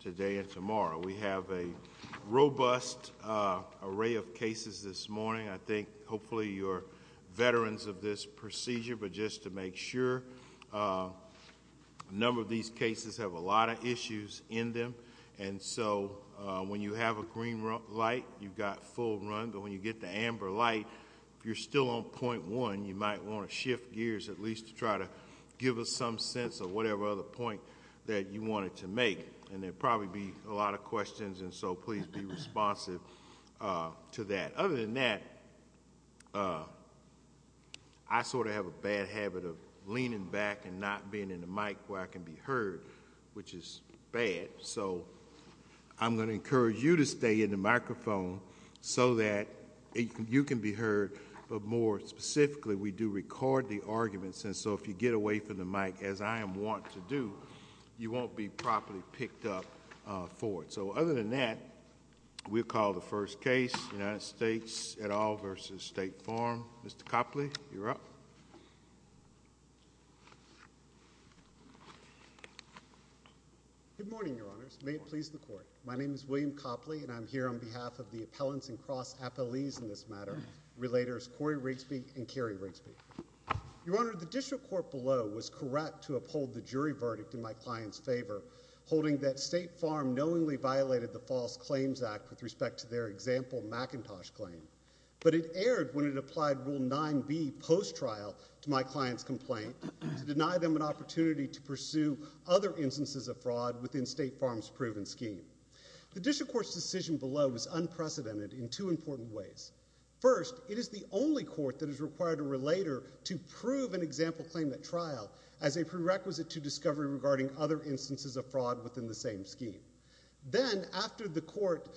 today and tomorrow. We have a robust array of cases this morning. I think hopefully you're veterans of this procedure but just to make sure. A number of these cases have a lot of issues in them and so when you have a green light you've got full run but when you get the amber light if you're still on point one you might want to shift gears at least to try to give us some sense of whatever other point that you wanted to make and there probably be a lot of questions and so please be responsive to that. Other than that I sort of have a bad habit of leaning back and not being in the mic where I can be heard which is bad so I'm going to encourage you to stay in the microphone so that you can be heard but more specifically we do record the arguments and so if you get away from the mic as I am want to do you won't be properly picked up for it. So other than that we'll call the first case United States et al. versus State Farm. Mr. Copley you're up. Good morning Your Honors. May it please the Court. My name is William Copley and I'm here on behalf of the appellants and cross appellees in this matter. Relators Corey Rigsby and Kerry Rigsby. Your Honor the district court below was correct to uphold the jury verdict in my client's favor holding that State Farm knowingly violated the False Claims Act with respect to their example Macintosh claim but it erred when it applied Rule 9b post trial to my client's complaint to deny them an opportunity to pursue other instances of fraud within State Farm's proven scheme. The district court's decision below was unprecedented in two important ways. First it is the only court that is required a relator to prove an example claim at trial as a prerequisite to discovery regarding other instances of fraud within the same scheme. Then after the court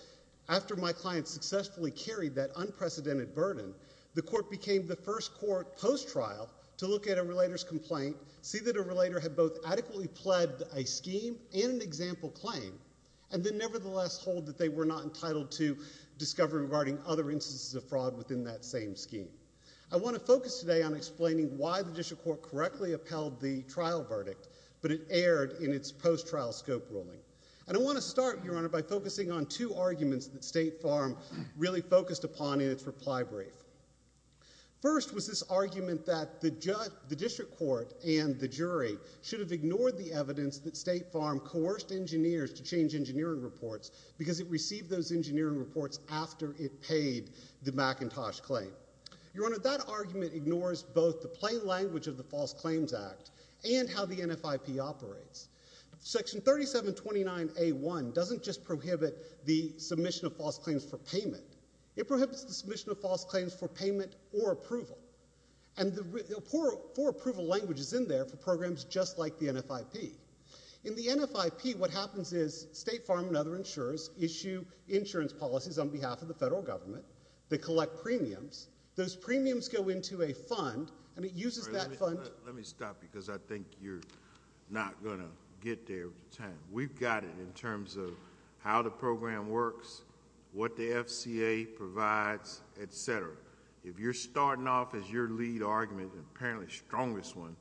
after my client successfully carried that unprecedented burden the court became the first court post trial to look at a relator's complaint see that a relator had both adequately pled a scheme and an example claim and then nevertheless hold that they were not entitled to discovery regarding other instances of fraud within that same scheme. I want to focus today on explaining why the district court correctly upheld the trial verdict but it erred in its post trial scope ruling and I want to start your honor by focusing on two arguments that State Farm really focused upon in its reply brief. First was this argument that the judge the district court and the jury should have ignored the evidence that State Farm coerced engineers to change engineering reports because it received those engineering reports after it paid the McIntosh claim. Your honor that argument ignores both the plain language of the False Claims Act and how the NFIP operates. Section 3729 A1 doesn't just prohibit the submission of false claims for payment it prohibits the submission of false claims for payment or approval and the poor for approval language is in there for programs just like the NFIP. In the NFIP what happens is State Farm and other insurers issue insurance policies on behalf of the federal government that collect premiums. Those premiums go into a fund and it uses that fund. Let me stop because I think you're not gonna get there with time. We've got it in terms of how the program works, what the FCA provides, etc. If you're starting off as your lead argument and apparently strongest one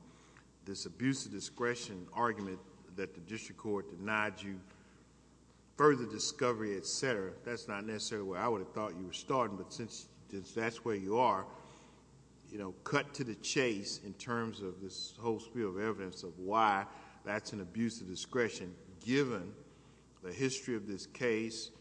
this abuse of discretion argument that the district court denied you, further discovery, etc., that's not necessarily where I would have thought you were starting but since that's where you are, cut to the chase in terms of this whole spiel of evidence of why that's an abuse of discretion given the history of this case,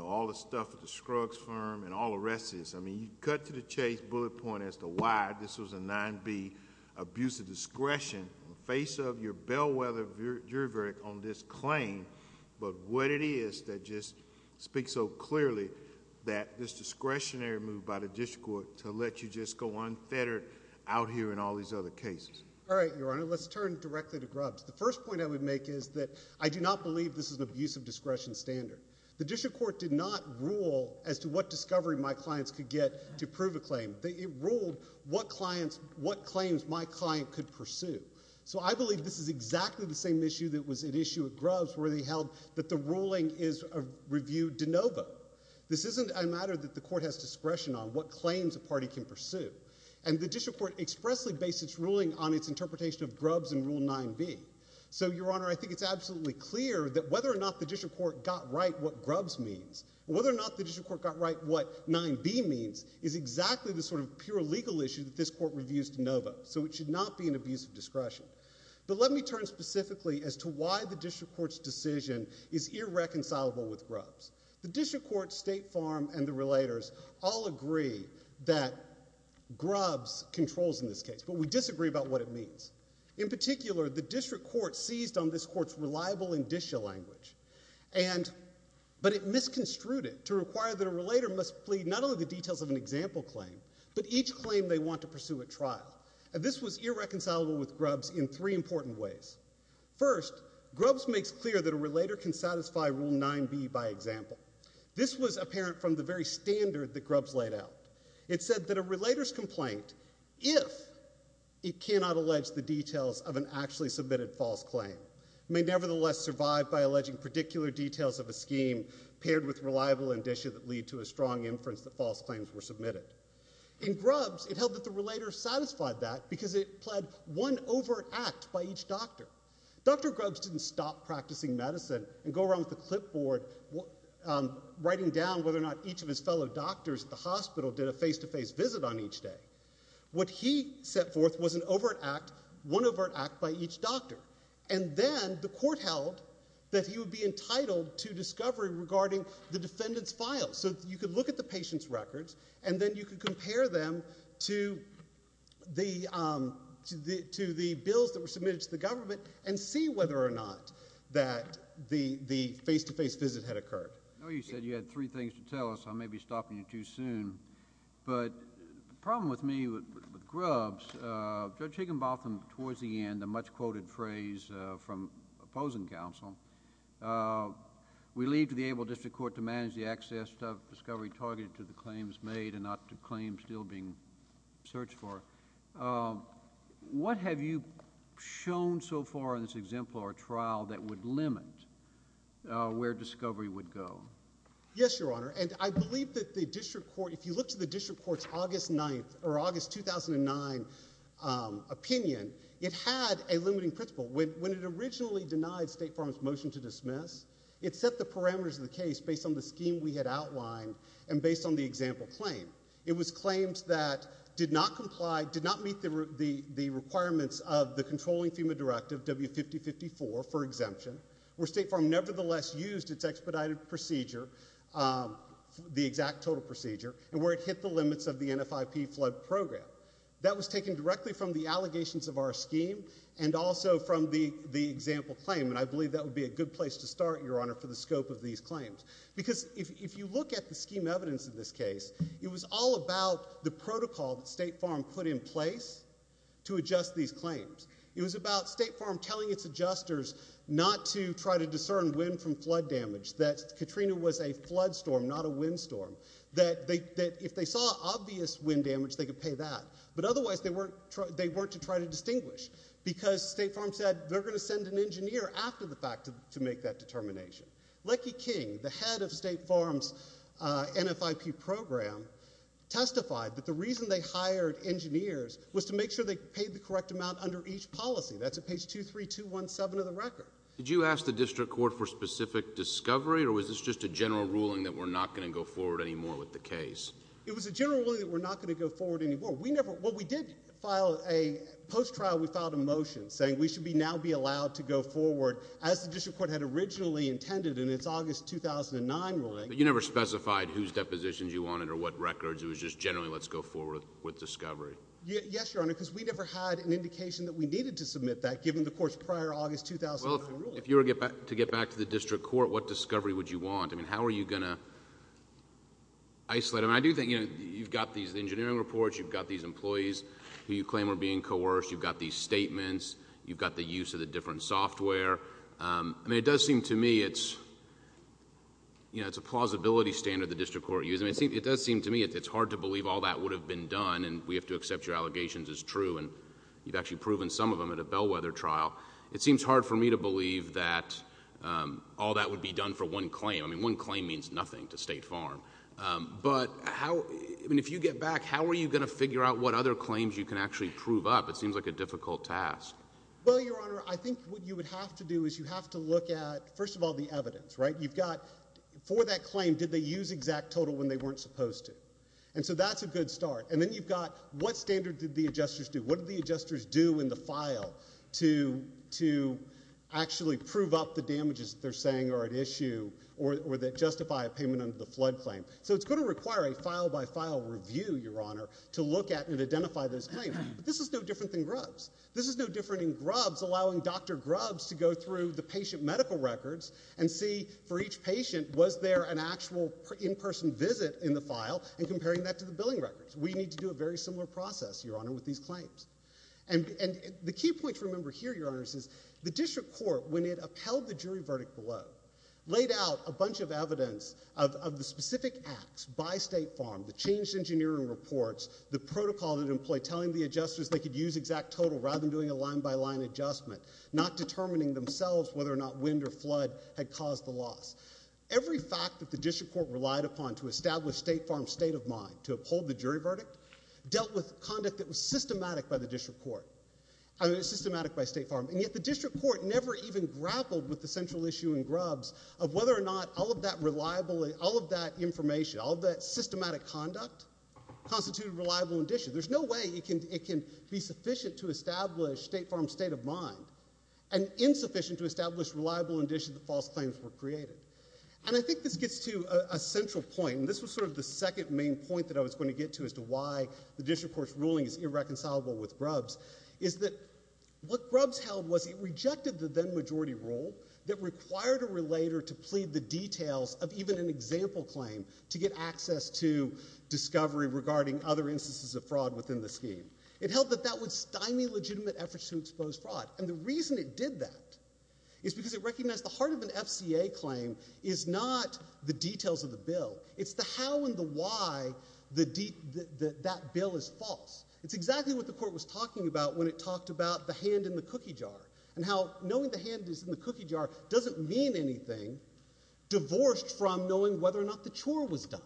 all the stuff at the Scruggs firm and all the rest of this. You cut to the chase, bullet point as to why this was a 9B abuse of discretion in the face of your bellwether jury verdict on this claim but what it is that just speaks so clearly that this discretionary move by the district court to let you just go unfettered out here in all these other cases. All right, Your Honor, let's turn directly to Grubbs. The first point I would make is that I do not believe this is an abuse of discretion standard. The district court did not rule as to what discovery my clients could get to prove a claim. They ruled what claims my client could pursue. So I believe this is exactly the same issue that was at issue at Grubbs where they held that the ruling is a review de novo. This isn't a matter that the court has discretion on what claims a party can pursue and the district court expressly based its ruling on its interpretation of Grubbs and Rule 9B. So, Your Honor, I think it's absolutely clear that whether or not the district court got right what Grubbs means, whether or not the district court got right what 9B means is exactly the sort of pure legal issue that this court reviews de novo. So it should not be an abuse of discretion. But let me turn specifically as to why the district court's decision is irreconcilable with Grubbs. The district court, State Farm, and the relators all agree that Grubbs controls in this case, but we disagree about what it means. In particular, the district court seized on this court's reliable indicia language, but it misconstrued it to require that a relator must plead not only the details of an example claim, but each claim they want to pursue at trial. This was irreconcilable with Grubbs in three important ways. First, Grubbs makes clear that a relator can satisfy Rule 9B by example. This was apparent from the very standard that Grubbs laid out. It said that a relator's complaint, if it cannot allege the details of an actually submitted false claim, may nevertheless survive by alleging particular details of a scheme paired with reliable indicia that lead to a strong inference that false claims were submitted. In Grubbs, it held that the relator satisfied that because it pled one overt act by each doctor. Dr. Grubbs didn't stop practicing medicine and go around with the clipboard writing down whether or not each of his fellow doctors at the hospital did a face-to-face visit on each day. What he set forth was an overt act, one overt act by each doctor, and then the court held that he would be entitled to discovery regarding the defendant's files. So you could look at the patient's records, and then you could compare them to the bills that were submitted to the government and see whether or not that the face-to-face visit had occurred. I know you said you had three things to tell us. I may be stopping you too soon. But the problem with me, with Grubbs, Judge Higginbotham, towards the end, a little bit later than the opposing counsel, we leave to the able district court to manage the access of discovery targeted to the claims made and not to claims still being searched for. What have you shown so far in this exemplar trial that would limit where discovery would go? Yes, Your Honor. And I believe that the district court, if you look to the district court's August 9th or August 2009 opinion, it had a limiting principle. When it originally denied State Farm's motion to dismiss, it set the parameters of the case based on the scheme we had outlined and based on the example claim. It was claims that did not comply, did not meet the requirements of the controlling FEMA directive, W-5054, for exemption, where State Farm nevertheless used its expedited procedure, the exact total procedure, and where it hit the limits of the NFIP flood program. That was taken directly from the allegations of our scheme and also from the example claim. And I believe that would be a good place to start, Your Honor, for the scope of these claims. Because if you look at the scheme evidence of this case, it was all about the protocol that State Farm put in place to adjust these claims. It was about State Farm telling its adjusters not to try to discern wind from flood damage, that Katrina was a flood storm, not a wind storm, that if they saw obvious wind damage, they could pay that. But otherwise, they weren't to try to distinguish, because State Farm said they're going to send an engineer after the fact to make that determination. Leckie King, the head of State Farm's NFIP program, testified that the reason they hired engineers was to make sure they paid the correct amount under each policy. That's at page 23217 of the record. Did you ask the district court for specific discovery, or was this just a general ruling that we're not going to go forward anymore with the case? It was a general ruling that we're not going to go forward anymore. We never, well, we did file a, post-trial, we filed a motion saying we should be now be allowed to go forward as the district court had originally intended, and it's August 2009 ruling. But you never specified whose depositions you wanted or what records. It was just generally, let's go forward with discovery. Yes, Your Honor, because we never had an indication that we needed to submit that, given the court's prior August 2009 ruling. Well, if you were to get back to the district court, what were you going to isolate? I mean, I do think, you know, you've got these engineering reports, you've got these employees who you claim are being coerced, you've got these statements, you've got the use of the different software. I mean, it does seem to me it's, you know, it's a plausibility standard the district court used. I mean, it does seem to me it's hard to believe all that would have been done, and we have to accept your allegations as true, and you've actually proven some of them at a bellwether trial. It seems hard for me to believe, and it certainly means nothing to State Farm. But how, I mean, if you get back, how are you gonna figure out what other claims you can actually prove up? It seems like a difficult task. Well, Your Honor, I think what you would have to do is you have to look at, first of all, the evidence, right? You've got, for that claim, did they use exact total when they weren't supposed to? And so that's a good start. And then you've got, what standard did the adjusters do? What did the adjusters do in the file to, to actually prove up the damages they're saying, or at issue, or that justify a payment under the flood claim? So it's going to require a file-by-file review, Your Honor, to look at and identify those claims. This is no different than Grubbs. This is no different than Grubbs allowing Dr. Grubbs to go through the patient medical records and see, for each patient, was there an actual in-person visit in the file, and comparing that to the billing records. We need to do a very similar process, Your Honor, with these claims. And, and the key point to remember here, Your Honors, is the district court, when it upheld the jury verdict below, laid out a bunch of evidence of the specific acts by State Farm, the changed engineering reports, the protocol that employed telling the adjusters they could use exact total rather than doing a line-by-line adjustment, not determining themselves whether or not wind or flood had caused the loss. Every fact that the district court relied upon to establish State Farm's state of mind, to uphold the jury verdict, dealt with conduct that was systematic by the district court, I mean, systematic by being grappled with the central issue in Grubbs of whether or not all of that reliable, all of that information, all of that systematic conduct, constituted reliable indicia. There's no way it can, it can be sufficient to establish State Farm's state of mind, and insufficient to establish reliable indicia that false claims were created. And I think this gets to a central point, and this was sort of the second main point that I was going to get to as to why the district court's ruling is irreconcilable with Grubbs, is that what Grubbs held was it rejected the then-majority rule that required a relator to plead the details of even an example claim to get access to discovery regarding other instances of fraud within the scheme. It held that that would stymie legitimate efforts to expose fraud, and the reason it did that is because it recognized the heart of an FCA claim is not the details of the bill, it's the how and the why that bill is false. It's exactly what the court was talking about when it talked about the hand in the cookie jar, and how knowing the hand is in the cookie jar doesn't mean anything, divorced from knowing whether or not the chore was done.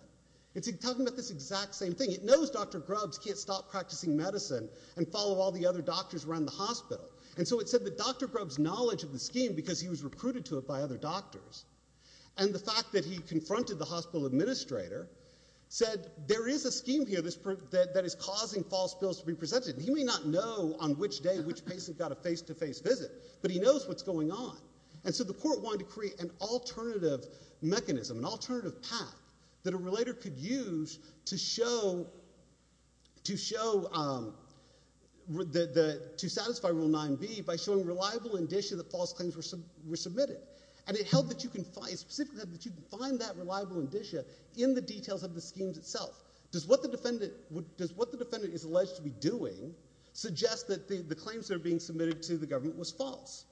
It's talking about this exact same thing. It knows Dr. Grubbs can't stop practicing medicine and follow all the other doctors around the hospital, and so it said that Dr. Grubbs' knowledge of the scheme, because he was recruited to it by other doctors, and the fact that he confronted the hospital administrator, said there is a scheme here that is causing false bills to be presented, and he may not know on which day which patient got a face-to-face visit, but he knows what's going on, and so the court wanted to create an alternative mechanism, an alternative path, that a relator could use to show, to show, to satisfy Rule 9b by showing reliable indicia that false claims were submitted, and it held that you can find, specifically that you can find that reliable indicia in the details of the schemes itself. Does what the suggests that the claims that are being submitted to the government was false.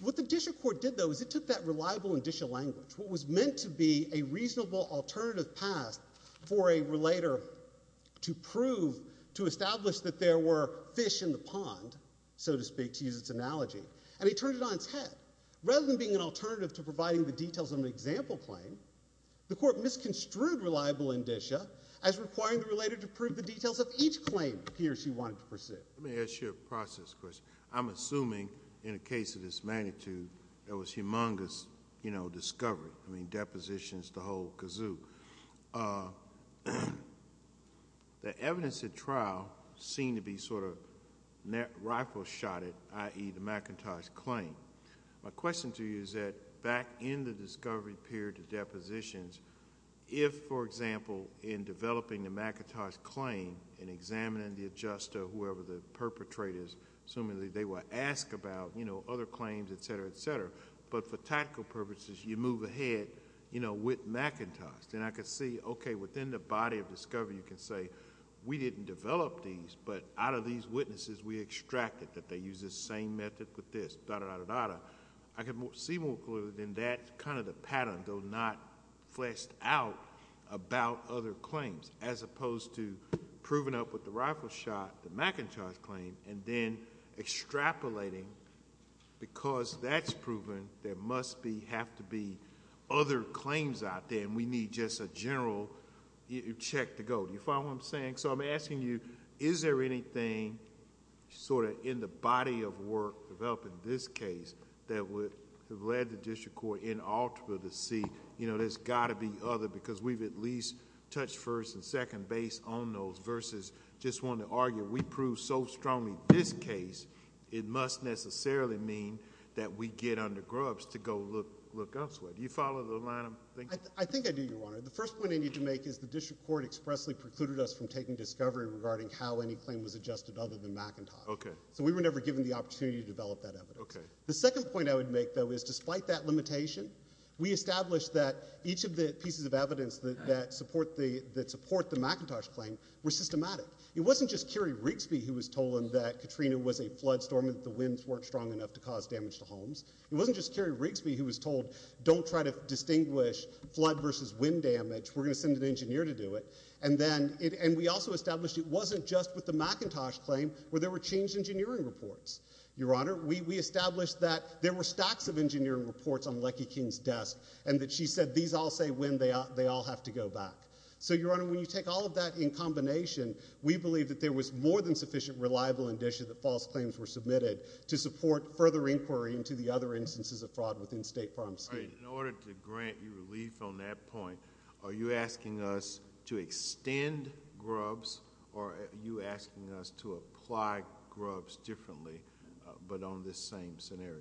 What the Disha court did, though, is it took that reliable indicia language, what was meant to be a reasonable alternative path for a relator to prove, to establish that there were fish in the pond, so to speak, to use its analogy, and he turned it on its head. Rather than being an alternative to providing the details of an example claim, the court misconstrued reliable indicia as requiring the relator to prove that there were fish in the pond, and that's what the Disha court did. I'm assuming, in a case of this magnitude, there was humongous, you know, discovery, I mean, depositions, the whole kazoo. The evidence at trial seemed to be sort of rifle-shotted, i.e., the McIntosh claim. My question to you is that back in the discovery period, the depositions, if, for example, in developing the McIntosh claim and examining the adjuster, whoever the perpetrator is, assuming that they were asked about other claims, et cetera, et cetera, but for tactical purposes, you move ahead with McIntosh. Then I could see, okay, within the body of discovery, you can say, we didn't develop these, but out of these witnesses, we extracted that they use the same method with this, da-da-da-da-da. I could see more clearly than that kind of the pattern, though not fleshed out about other claims, as opposed to proving up with the rifle shot, the McIntosh claim, and then extrapolating because that's proven, there must be, have to be other claims out there, and we need just a general check to go. Do you follow what I'm saying? I'm asking you, is there anything sort of in the body of work developed in this case that would have led the district court in Alta to see, you know, there's got to be other, because we've at least touched first and second base on those, versus just want to argue, we proved so strongly this case, it must necessarily mean that we get under grubs to go look elsewhere. Do you follow the line of thinking? I think I do, Your Honor. The first point I need to make is the district court expressly precluded us from taking discovery regarding how any claim was adjusted other than McIntosh. Okay. So we were never given the opportunity to develop that evidence. Okay. The second point I would make, though, is despite that limitation, we established that each of the pieces of evidence that support the McIntosh claim were systematic. It wasn't just Kerry Rigsby who was told that Katrina was a flood storm and that the winds weren't strong enough to cause damage to homes. It wasn't just Kerry Rigsby who was told, don't try to distinguish flood versus wind damage, we're going to send an engineer to do it. And then, and we also established it wasn't just with the McIntosh claim where there were changed engineering reports. Your Honor, we established that there were And that she said these all say when they all have to go back. So, Your Honor, when you take all of that in combination, we believe that there was more than sufficient reliable indicia that false claims were submitted to support further inquiry into the other instances of fraud within state farms. All right. In order to grant you relief on that point, are you asking us to extend GRUBs or are you asking us to apply GRUBs differently but on this same scenario?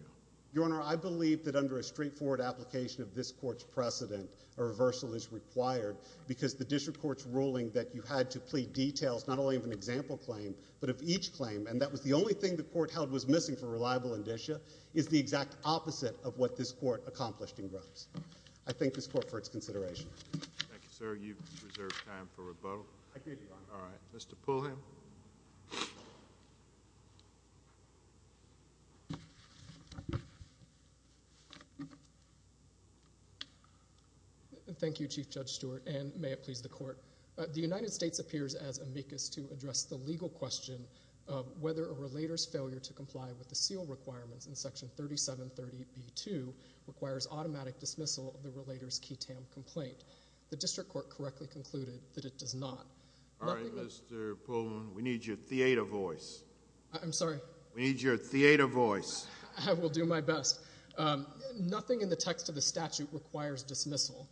Your Honor, I believe that under a straightforward application of this court's precedent, a reversal is required because the district court's ruling that you had to plead details not only of an example claim but of each claim and that was the only thing the court held was missing for reliable indicia is the exact opposite of what this court accomplished in GRUBS. I thank this court for its consideration. Thank you, sir. You've reserved time for rebuttal. I did, Your Honor. All right. Mr. Pulliam? Thank you, Chief Judge Stewart, and may it please the Court. The United States appears as amicus to address the legal question of whether a relator's failure to comply with the seal requirements in Section 3730B2 requires automatic dismissal of the relator's key TAM complaint. The district court correctly concluded that it does not. All right, Mr. Pulliam. We need your theater voice. I'm sorry? We need your theater voice. I will do my best. Nothing in the text of the statute requires dismissal.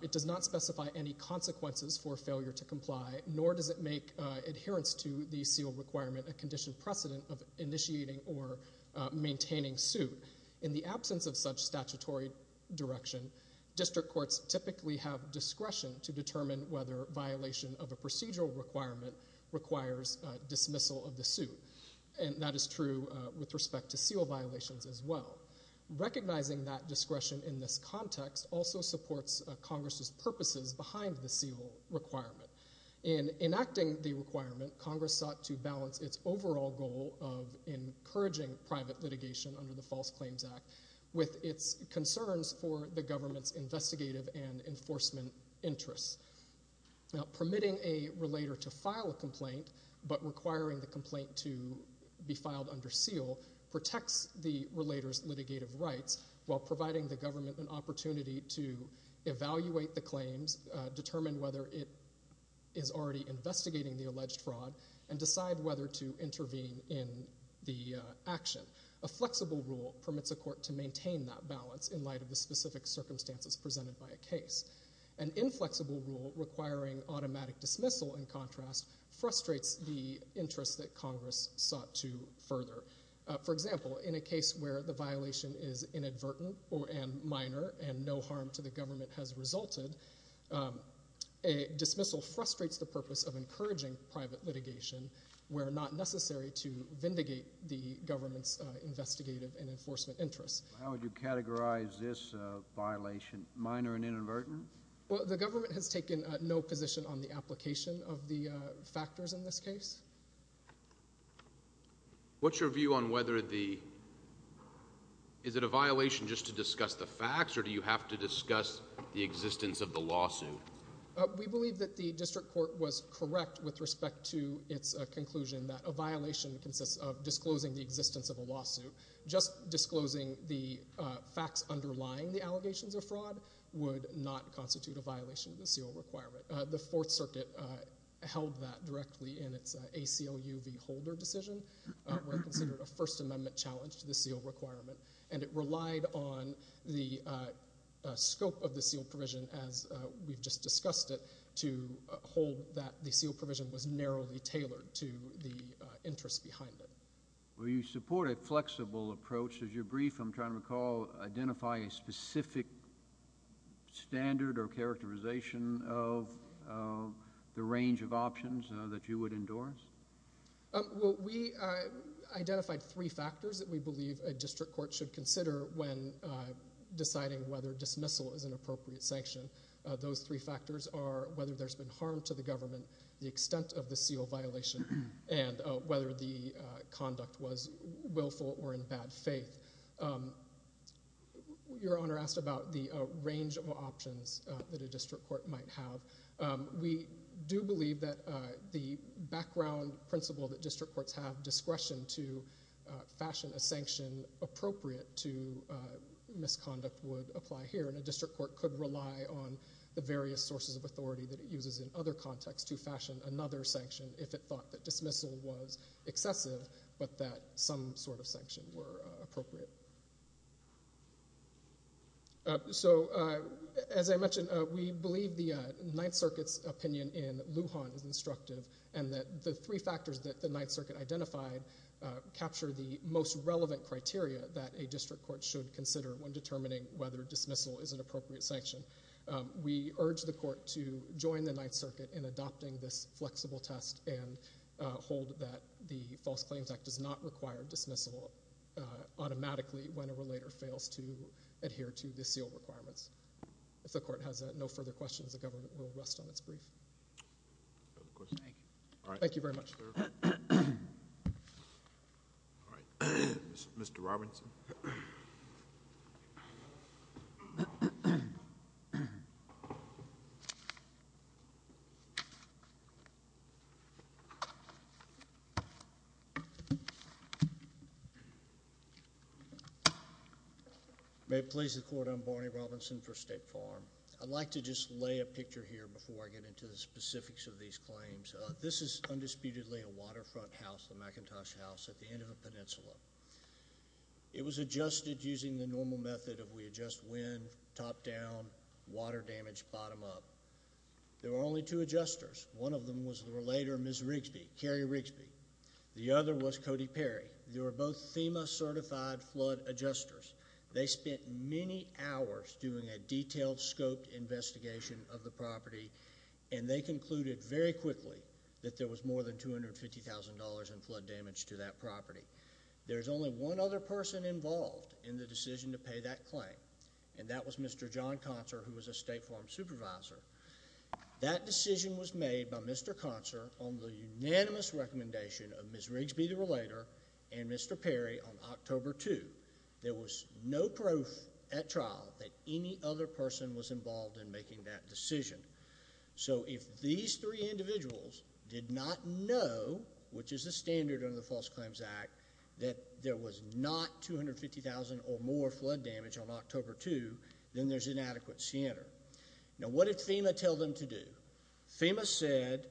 It does not specify any consequences for failure to comply, nor does it make adherence to the seal requirement a condition precedent of initiating or maintaining suit. In the absence of such statutory direction, district courts typically have discretion to determine whether violation of a procedural requirement requires dismissal of the suit, and that is true with respect to seal violations as well. Recognizing that discretion in this context also supports Congress's purposes behind the seal requirement. In enacting the requirement, Congress sought to balance its overall goal of encouraging private litigation under the False Claims Act with its concerns for the government and enforcement interests. Now, permitting a relator to file a complaint but requiring the complaint to be filed under seal protects the relator's litigative rights while providing the government an opportunity to evaluate the claims, determine whether it is already investigating the alleged fraud, and decide whether to intervene in the action. A flexible rule permits a court to maintain that balance in light of the specific circumstances presented by a case. An inflexible rule requiring automatic dismissal, in contrast, frustrates the interests that Congress sought to further. For example, in a case where the violation is inadvertent and minor and no harm to the government has resulted, a dismissal frustrates the purpose of encouraging private litigation where not necessary to vindicate the government's investigative and enforcement interests. How would you categorize this violation minor and inadvertent? Well, the government has taken no position on the application of the factors in this case. What's your view on whether the, is it a violation just to discuss the facts or do you have to discuss the existence of the lawsuit? We believe that the district court was correct with respect to its conclusion that a violation consists of disclosing the existence of a lawsuit. Just disclosing the facts underlying the allegations of fraud would not constitute a violation of the SEAL requirement. The Fourth Circuit held that directly in its ACLU v. Holder decision, where it considered a First Amendment challenge to the SEAL requirement, and it relied on the scope of the SEAL provision, as we've just discussed it, to hold that the SEAL requirement. So it's a very flexible approach. As you're brief, I'm trying to recall, identify a specific standard or characterization of the range of options that you would endorse? Well, we identified three factors that we believe a district court should consider when deciding whether dismissal is an appropriate sanction. Those three factors are whether there's been harm to the government, the extent of the SEAL violation, and whether the conduct was willful or in bad faith. Your Honor asked about the range of options that a district court might have. We do believe that the background principle that district courts have, discretion to fashion a sanction appropriate to misconduct, would apply here. And a district court could rely on the various sources of authority that it uses in other contexts to fashion another sanction if it thought that dismissal was excessive, but that some sort of sanction were appropriate. So, as I mentioned, we believe the Ninth Circuit's opinion in Lujan is instructive, and that the three factors that the Ninth Circuit identified capture the most relevant criteria that a district court should consider when determining whether dismissal is an appropriate sanction. We urge the court to join the Ninth Circuit in adopting this flexible test, and hold that the False Claims Act does not require dismissal automatically when a relator fails to adhere to the SEAL requirements. If the court has no further questions, the government will rest on its brief. Thank you very much. All right. Mr. Robinson. May it please the Court, I'm Barney Robinson for State Farm. I'd like to just lay a picture here before I get into the specifics of these claims. This is undisputedly a waterfront house, the McIntosh House, at the end of a peninsula. It was adjusted using the normal method of we adjust wind, top-down, water damage, bottom-up. There were only two adjusters. One of them was the relator, Ms. Rigsby, Carrie Rigsby. The other was Cody Perry. They were both FEMA certified flood adjusters. They spent many hours doing a detailed, scoped investigation of the property. There was more than $250,000 in flood damage to that property. There's only one other person involved in the decision to pay that claim, and that was Mr. John Concer, who was a State Farm supervisor. That decision was made by Mr. Concer on the unanimous recommendation of Ms. Rigsby, the relator, and Mr. Perry on October 2. There was no proof at trial that any other person was involved in making that decision. So if these three individuals did not know, which is the standard under the False Claims Act, that there was not $250,000 or more flood damage on October 2, then there's inadequate center. Now what did FEMA tell them to do? FEMA said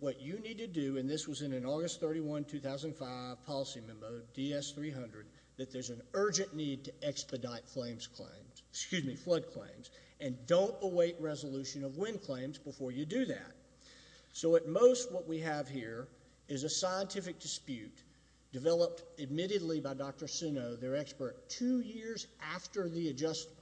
what you need to do, and this was in an August 31, 2005, policy memo, DS-300, that there's an urgent need to expedite claims, excuse me, flood claims, and don't await resolution of wind claims before you do that. So at most what we have here is a scientific dispute developed, admittedly, by Dr. Sunow, their expert, two years after the adjustment,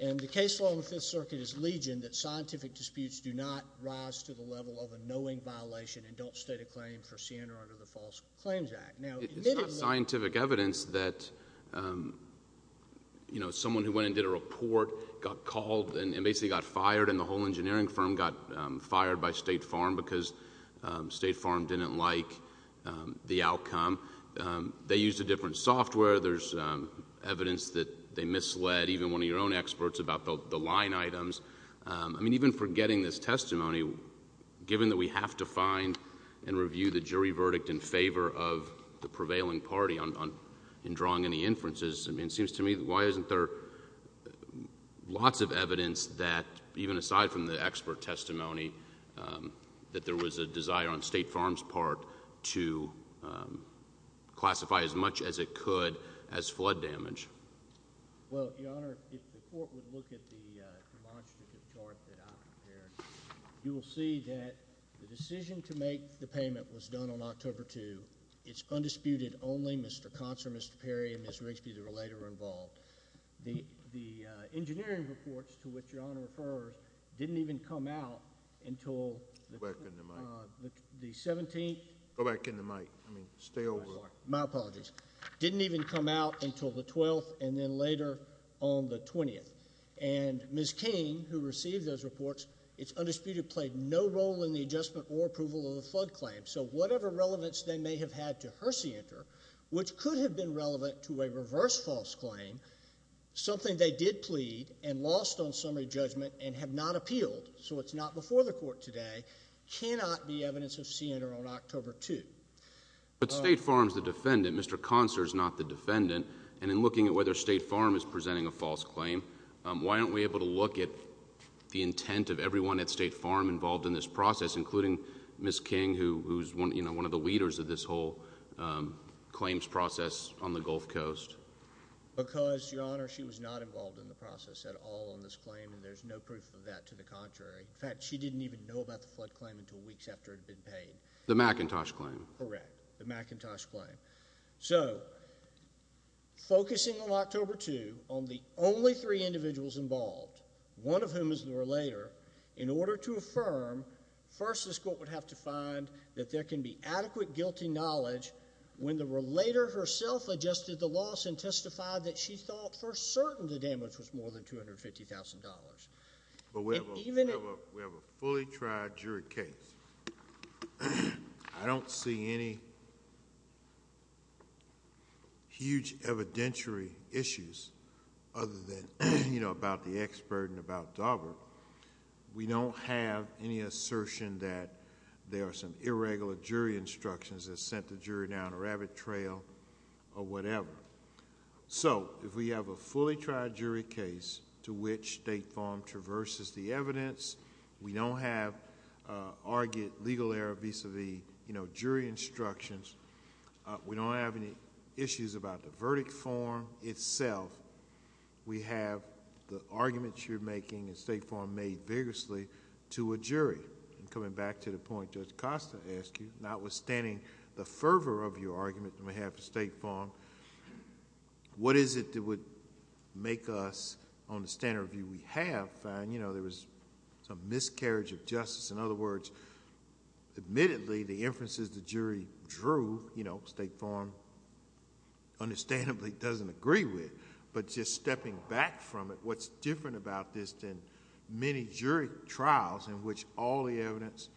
and the case law in the Fifth Circuit is legion that scientific disputes do not rise to the level of a knowing violation and don't state a claim for sin or under the False Claims Act. It's not scientific evidence that, you know, someone who went and did a report got called and basically got fired, and the whole engineering firm got fired by State Farm because State Farm didn't like the outcome. They used a different software. There's evidence that they misled even one of your own experts about the line items. I mean, even forgetting this testimony, given that we have to find and review the jury verdict in favor of the prevailing party in drawing any inferences, I mean, it seems to me, why isn't there lots of evidence that, even aside from the expert testimony, that there was a desire on State Farm's part to classify as much as it could as flood damage? Well, Your Honor, if the Court would look at the demonstrative chart that I prepared, you will see that the decision to make the payment was done on October 2. It's undisputed only Mr. Consor, Mr. Perry, and Ms. Rigsby, the relator, were involved. The engineering reports, to which Your Honor refers, didn't even come out until the 17th. Go back in the mic. I mean, stay over. My apologies. Didn't even come out until the 12th, and then later on the 20th. And Ms. King, who received those reports, it's undisputed, played no role in the adjustment or approval of the flood claim. So whatever relevance they may have had to her scienter, which could have been relevant to a reverse false claim, something they did plead and lost on summary judgment and have not appealed, so it's not before the Court today, cannot be evidence of scienter on October 2. But State Farm's the defendant. Mr. Consor's not the defendant. And in looking at whether State Farm is presenting a false claim, why aren't we able to look at the intent of everyone at State Farm involved in this process, including Ms. King, who's one of the leaders of this whole claims process on the Gulf Coast? Because, Your Honor, she was not involved in the process at all on this claim, and there's no proof of that to the contrary. In fact, she didn't even know about the flood claim until weeks after it had been paid. The McIntosh claim. Correct. The McIntosh claim. So focusing on October 2 on the only three individuals involved, one of whom is the relator, in order to affirm, first this Court would have to find that there can be adequate guilty knowledge when the relator herself adjusted the loss and testified that she thought for certain the damage was more than $250,000. We have a fully tried jury case. I don't see any huge evidentiary issues other than about the expert and about Daubert. We don't have any assertion that there are some irregular jury instructions that sent the jury down a rabbit trail or whatever. If we have a fully tried jury case to which State Farm traverses the evidence, we don't have argued legal error vis-a-vis jury instructions, we don't have any issues about the verdict form itself, we have the arguments you're making at State Farm made vigorously to a jury. Coming back to the point Judge Costa asked you, notwithstanding the fervor of your argument on behalf of State Farm, what is it that would make us, on the standard of view we have, find there was some miscarriage of justice. In other words, admittedly, the inferences the jury drew, State Farm understandably doesn't agree with, but just stepping back from it, what's different about this than many jury trials in which all the evidence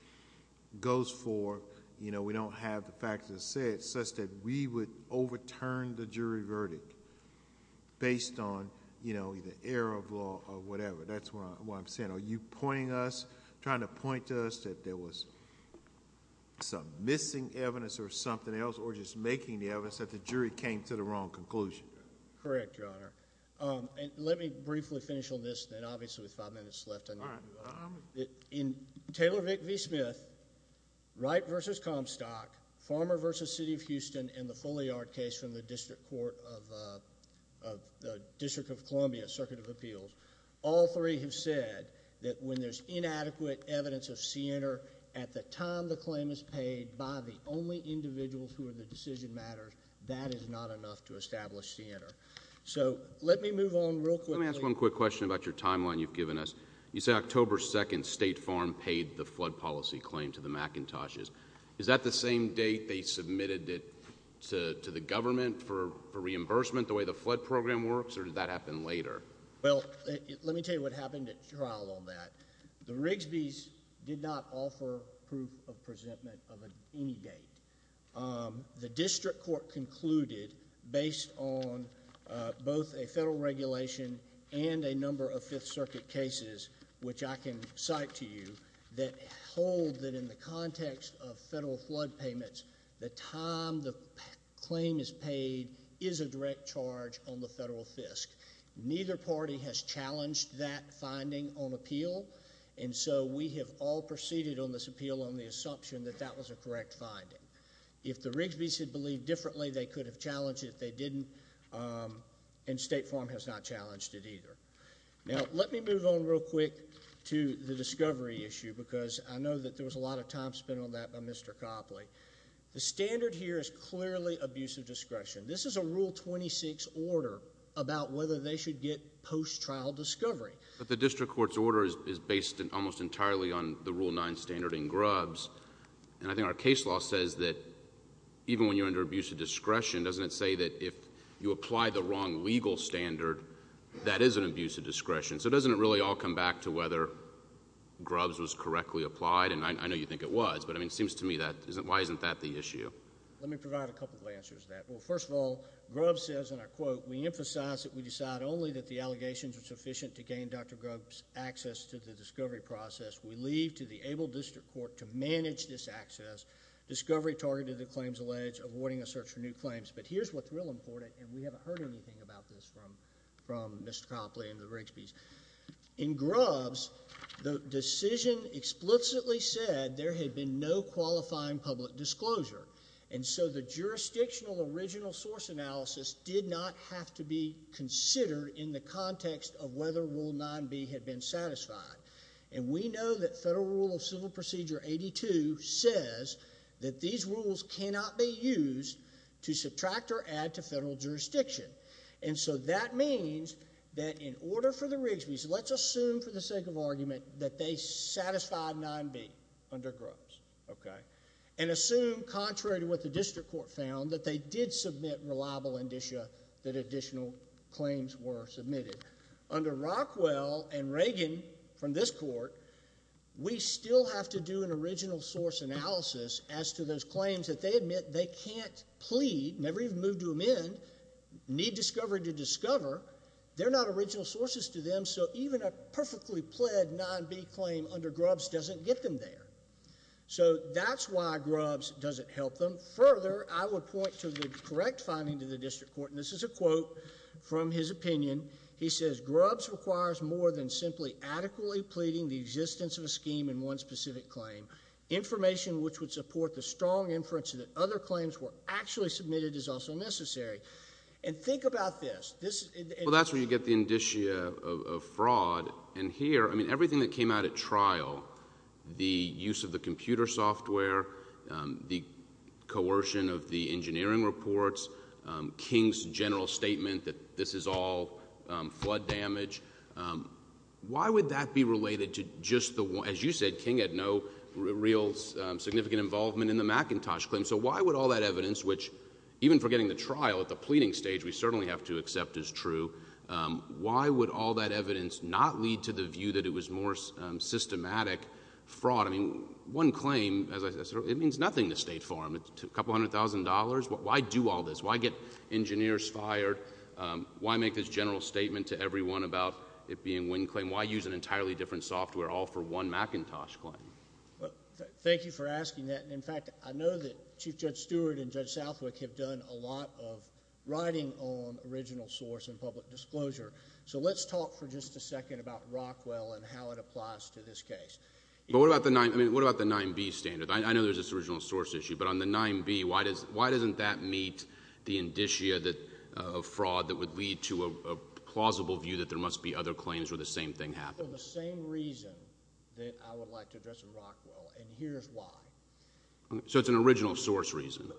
goes for, we don't have the facts as such that we would overturn the jury verdict based on either error of law or whatever. That's what I'm saying. Are you pointing us, trying to point to us that there was some missing evidence or something else or just making the evidence that the jury came to the wrong conclusion? Correct, Your Honor. Let me briefly finish on this then, obviously with five minutes left. All right. In Taylor v. Smith, Wright v. Comstock, Farmer v. City of Houston, and the Folliard case from the District Court of the District of Columbia, Circuit of Appeals, all three have said that when there's inadequate evidence of CNR at the time the claim is paid by the only individuals who are the decision matters, that is not enough to establish CNR. So, let me move on real quickly. Let me ask one quick question about your timeline you've given us. You said October 2nd State Farm paid the flood policy claim to the McIntoshes. Is that the same date they submitted it to the government for reimbursement, the way the flood program works, or did that happen later? Well, let me tell you what happened at trial on that. The Rigsby's did not offer proof of presentment of any date. The District Court concluded, based on both a federal regulation and a number of Fifth Circuit cases, which I can cite to you, that hold that in the context of federal flood payments, the time the claim is paid is a direct charge on the federal fisc. Neither party has challenged that finding on appeal, and so we have all proceeded on this appeal on the assumption that that was a correct finding. If the Rigsby's had believed differently, they could have challenged it. They didn't, and State Farm has not challenged it either. Now, let me move on real quick to the discovery issue because I know that there was a lot of time spent on that by Mr. Copley. The standard here is clearly abuse of discretion. This is a Rule 26 order about whether they should get post-trial discovery. But the District Court's order is based almost entirely on the Rule 9 standard in Grubbs, and I think our case law says that even when you're under abuse of discretion, doesn't it say that if you apply the wrong legal standard, that is an abuse of discretion? So doesn't it really all come back to whether Grubbs was correctly applied? And I know you think it was, but it seems to me, why isn't that the issue? Let me provide a couple of answers to that. Well, first of all, Grubbs says in our quote, we emphasize that we decide only that the allegations are sufficient to gain Dr. Grubbs' access to the discovery process. We leave to the able District Court to manage this access. Discovery targeted the claims alleged, avoiding a search for new claims. But here's what's real important, and we haven't heard anything about this from Mr. Copley and the Rigsby's. In Grubbs, the decision explicitly said there had been no qualifying public disclosure. And so the jurisdictional original source analysis did not have to be considered in the context of whether Rule 9b had been satisfied. And we know that Federal Rule of Civil Procedure 82 says that these rules cannot be used to subtract or add to federal jurisdiction. And so that means that in order for the Rigsby's, let's assume for the sake of argument that they satisfied 9b under Grubbs. Okay. And assume, contrary to what the District Court found, that they did submit reliable indicia that additional claims were submitted. Under Rockwell and Reagan from this court, we still have to do an original source analysis as to those claims that they admit they can't plead, never even moved to amend, need discovery to discover. They're not original sources to them, so even a perfectly pled 9b claim under Grubbs doesn't get them there. So that's why Grubbs doesn't help them. Further, I would point to the correct finding to the District Court, and this is a quote from his opinion. He says, Grubbs requires more than simply adequately pleading the existence of a scheme in one specific claim. Information which would support the strong inference that other claims were actually submitted is also necessary. And think about this. Well, that's where you get the indicia of fraud. And here, I mean, everything that came out at trial, the use of the computer software, the coercion of the engineering reports, King's general statement that this is all flood damage, why would that be related to just the one? As you said, King had no real significant involvement in the McIntosh claim, so why would all that evidence, which even forgetting the trial at the pleading stage we certainly have to accept is true, why would all that evidence not lead to the view that it was more systematic fraud? I mean, one claim, as I said, it means nothing to State Farm. A couple hundred thousand dollars, why do all this? Why get engineers fired? Why make this general statement to everyone about it being one claim? Why use an entirely different software all for one McIntosh claim? Thank you for asking that. In fact, I know that Chief Judge Stewart and Judge Southwick have done a lot of writing on original source and public disclosure. So let's talk for just a second about Rockwell and how it applies to this case. But what about the 9B standard? I know there's this original source issue, but on the 9B, why doesn't that meet the indicia of fraud that would lead to a plausible view that there must be other claims where the same thing happened? I would like to address in Rockwell, and here's why. So it's an original source reason.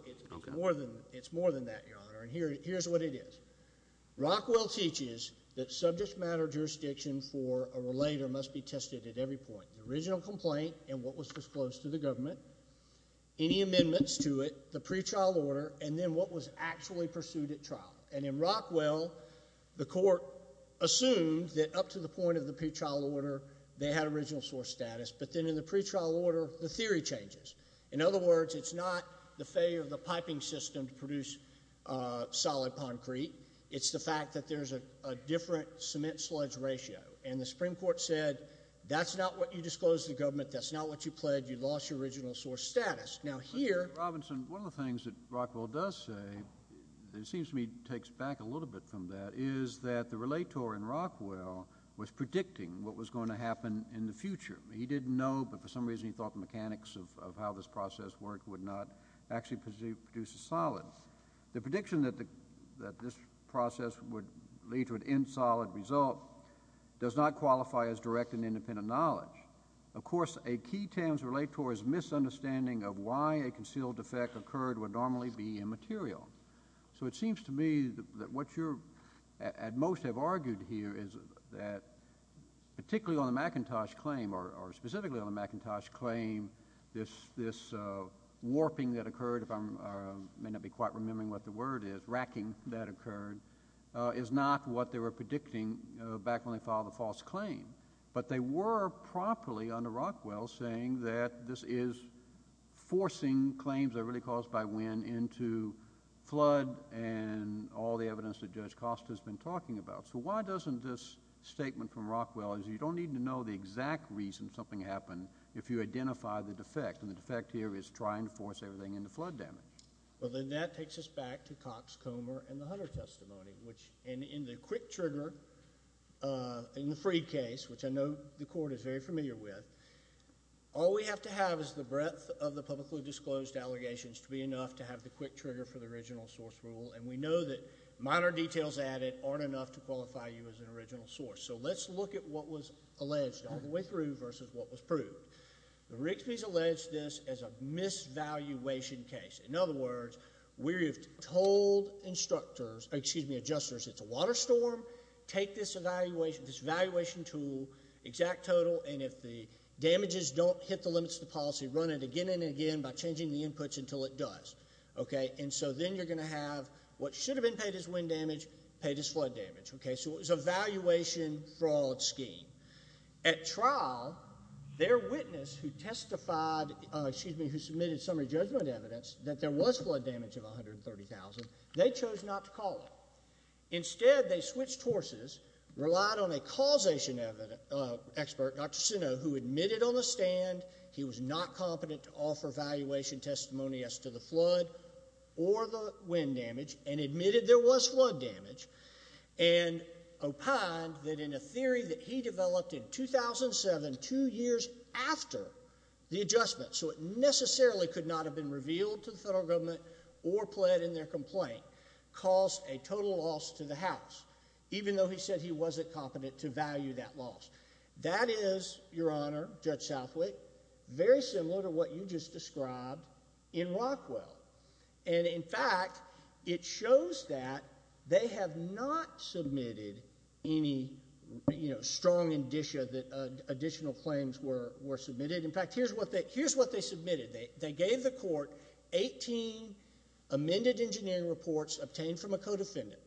It's more than that, Your Honor, and here's what it is. Rockwell teaches that subject matter jurisdiction for a relator must be tested at every point. The original complaint and what was disclosed to the government, any amendments to it, the pre-trial order, and then what was actually pursued at trial. And in Rockwell, the court assumed that up to the point of the pre-trial order, they had original source status. But then in the pre-trial order, the theory changes. In other words, it's not the failure of the piping system to produce solid concrete. It's the fact that there's a different cement sludge ratio. And the Supreme Court said that's not what you disclosed to the government. That's not what you pled. You lost your original source status. Now here Mr. Robinson, one of the things that Rockwell does say, it seems to me takes back a little bit from that, is that the relator in Rockwell was predicting what was going to happen in the future. He didn't know, but for some reason he thought the mechanics of how this process worked would not actually produce a solid. The prediction that this process would lead to an insolid result does not qualify as direct and independent knowledge. Of course, a key terms relate towards misunderstanding of why a concealed effect occurred would normally be immaterial. So it seems to me that what you at most have argued here is that particularly on the McIntosh claim, or specifically on the McIntosh claim, this warping that occurred, if I may not be quite remembering what the word is, racking that occurred, is not what they were predicting back when they filed the false claim. But they were properly under Rockwell saying that this is forcing claims that are really caused by wind into flood and all the evidence that Judge Costa has been talking about. So why doesn't this statement from Rockwell is you don't need to know the exact reason something happened if you identify the defect. And the defect here is trying to force everything into flood damage. Well, then that takes us back to Cox, Comer, and the Hunter testimony. And in the quick trigger, in the Freed case, which I know the court is very familiar with, all we have to have is the breadth of the publicly disclosed allegations to be enough to have the quick trigger for the original source rule. And we know that minor details added aren't enough to qualify you as an original source. So let's look at what was alleged all the way through versus what was proved. The Rigsby's alleged this as a misvaluation case. In other words, we have told adjusters it's a water storm, take this evaluation tool, exact total, and if the damages don't hit the limits of the policy, run it again and again by changing the inputs until it does. And so then you're going to have what should have been paid as wind damage paid as flood damage. So it was a valuation fraud scheme. At trial, their witness who testified, excuse me, who submitted summary judgment evidence that there was flood damage of 130,000, they chose not to call it. Instead, they switched horses, relied on a causation expert, Dr. Sinnoh, who admitted on the stand he was not competent to offer valuation testimony as to the flood or the wind damage, and admitted there was flood damage, and opined that in a theory that he developed in 2007, two years after the adjustment, so it necessarily could not have been revealed to the federal government or pled in their complaint, caused a total loss to the House, even though he said he wasn't competent to value that loss. That is, Your Honor, Judge Southwick, very similar to what you just described in Rockwell. And, in fact, it shows that they have not submitted any strong indicia that additional claims were submitted. In fact, here's what they submitted. They gave the court 18 amended engineering reports obtained from a co-defendant.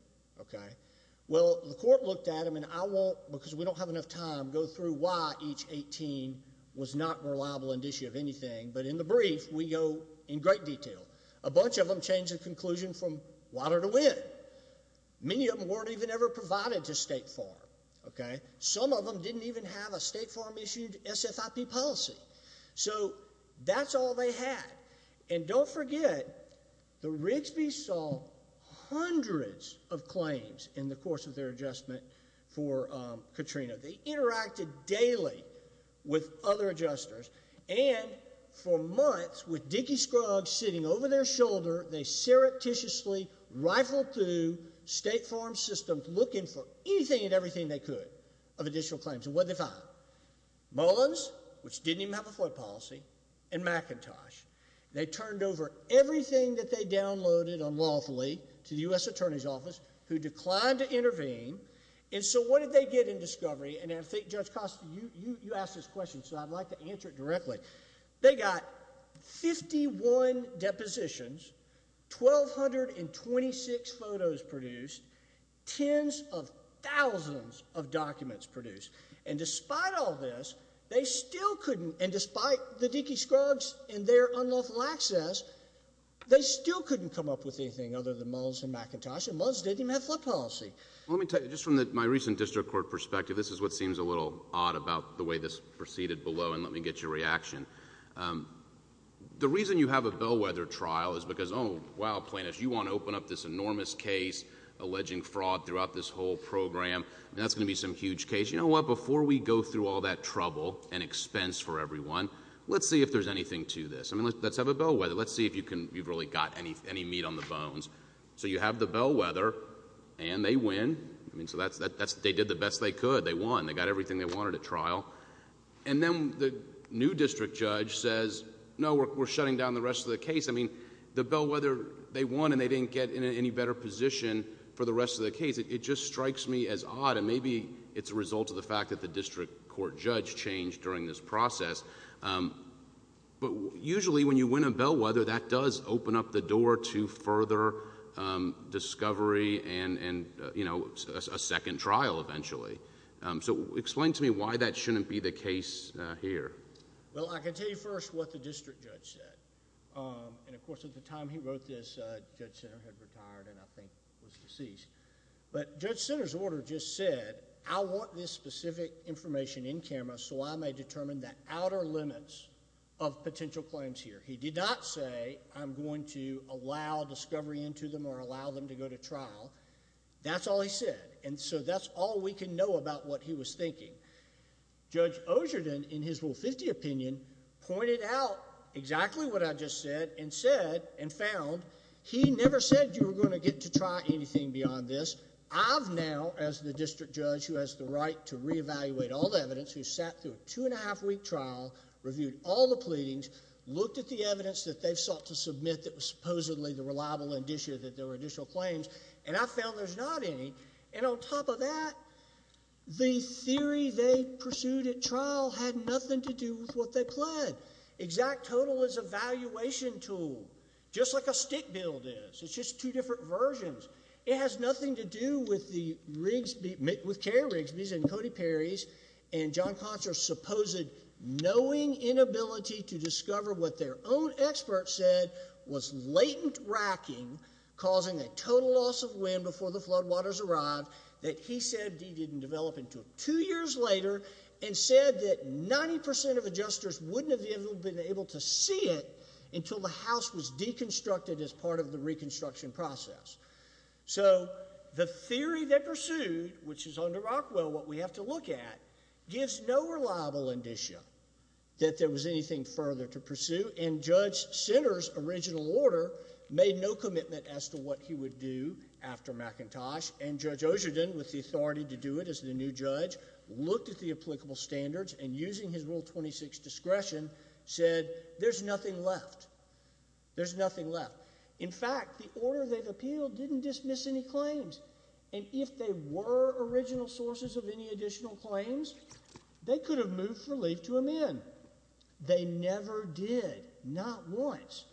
Well, the court looked at them, and I won't, because we don't have enough time, go through why each 18 was not reliable indicia of anything, but in the brief, we go in great detail. A bunch of them changed the conclusion from water to wind. Many of them weren't even ever provided to State Farm. Some of them didn't even have a State Farm-issued SFIP policy. So that's all they had. And don't forget, the Rigsby's saw hundreds of claims in the course of their adjustment for Katrina. They interacted daily with other adjusters. And for months, with Dickey Scruggs sitting over their shoulder, they surreptitiously rifled through State Farm systems looking for anything and everything they could of additional claims. And what did they find? Mullins, which didn't even have a FOIA policy, and McIntosh. They turned over everything that they downloaded unlawfully to the U.S. Attorney's Office, who declined to intervene. And so what did they get in discovery? And I think, Judge Costa, you asked this question, so I'd like to answer it directly. They got 51 depositions, 1,226 photos produced, tens of thousands of documents produced. And despite all this, they still couldn't, and despite the Dickey Scruggs and their unlawful access, they still couldn't come up with anything other than Mullins and McIntosh. And Mullins didn't even have FOIA policy. Well, let me tell you, just from my recent district court perspective, this is what seems a little odd about the way this proceeded below, and let me get your reaction. The reason you have a bellwether trial is because, oh, wow, plaintiffs, you want to open up this enormous case alleging fraud throughout this whole program, and that's going to be some huge case. You know what? Before we go through all that trouble and expense for everyone, let's see if there's anything to this. I mean, let's have a bellwether. Let's see if you've really got any meat on the bones. So you have the bellwether, and they win. I mean, so they did the best they could. They won. They got everything they wanted at trial. And then the new district judge says, no, we're shutting down the rest of the case. I mean, the bellwether, they won, and they didn't get in any better position for the rest of the case. It just strikes me as odd, and maybe it's a result of the fact that the district court judge changed during this process. But usually when you win a bellwether, that does open up the door to further discovery and a second trial eventually. So explain to me why that shouldn't be the case here. Well, I can tell you first what the district judge said. And, of course, at the time he wrote this, Judge Sinner had retired and I think was deceased. But Judge Sinner's order just said, I want this specific information in camera so I may determine the outer limits of potential claims here. He did not say I'm going to allow discovery into them or allow them to go to trial. That's all he said. And so that's all we can know about what he was thinking. Judge Osherden, in his Rule 50 opinion, pointed out exactly what I just said and said and found he never said you were going to get to try anything beyond this. I've now, as the district judge who has the right to reevaluate all the evidence, who sat through a two-and-a-half-week trial, reviewed all the pleadings, looked at the evidence that they've sought to submit that was supposedly the reliable indicia that there were additional claims, and I found there's not any. And on top of that, the theory they pursued at trial had nothing to do with what they pled. Exact total is a valuation tool, just like a stick build is. It's just two different versions. It has nothing to do with Carrie Rigsby's and Cody Perry's and John Consor's supposed knowing inability to discover what their own experts said was latent racking, causing a total loss of wind before the floodwaters arrived that he said he didn't develop until two years later and said that 90% of adjusters wouldn't have been able to see it until the house was deconstructed as part of the reconstruction process. So the theory they pursued, which is under Rockwell what we have to look at, gives no reliable indicia that there was anything further to pursue, and Judge Sinner's original order made no commitment as to what he would do after McIntosh, and Judge Osherden, with the authority to do it as the new judge, looked at the applicable standards, and using his Rule 26 discretion, said there's nothing left. There's nothing left. In fact, the order they've appealed didn't dismiss any claims. And if they were original sources of any additional claims, they could have moved relief to amend. They never did, not once.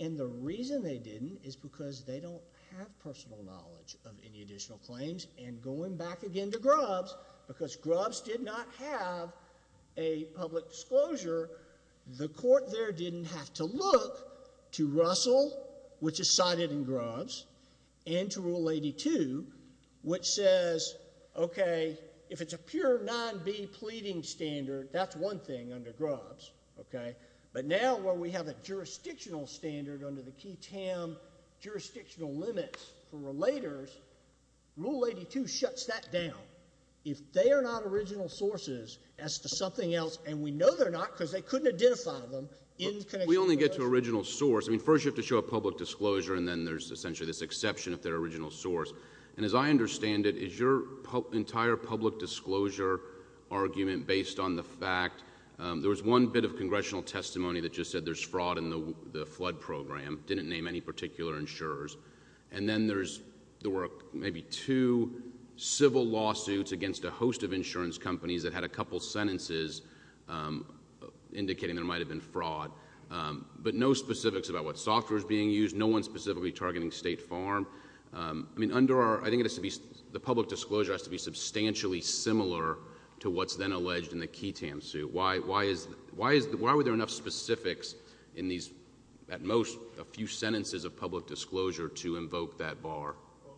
And the reason they didn't is because they don't have personal knowledge of any additional claims. And going back again to Grubbs, because Grubbs did not have a public disclosure, the court there didn't have to look to Russell, which is cited in Grubbs, and to Rule 82, which says, okay, if it's a pure 9B pleading standard, that's one thing under Grubbs. Okay? But now where we have a jurisdictional standard under the key TAM jurisdictional limits for relators, Rule 82 shuts that down. If they are not original sources as to something else, and we know they're not because they couldn't identify them. We only get to original source. I mean, first you have to show a public disclosure, and then there's essentially this exception if they're original source. And as I understand it, is your entire public disclosure argument based on the fact there was one bit of congressional testimony that just said there's fraud in the flood program. Didn't name any particular insurers. And then there were maybe two civil lawsuits against a host of insurance companies that had a couple sentences indicating there might have been fraud. But no specifics about what software is being used. No one specifically targeting State Farm. I think the public disclosure has to be substantially similar to what's then alleged in the key TAM suit. Why were there enough specifics in these, at most, a few sentences of public disclosure to invoke that bar?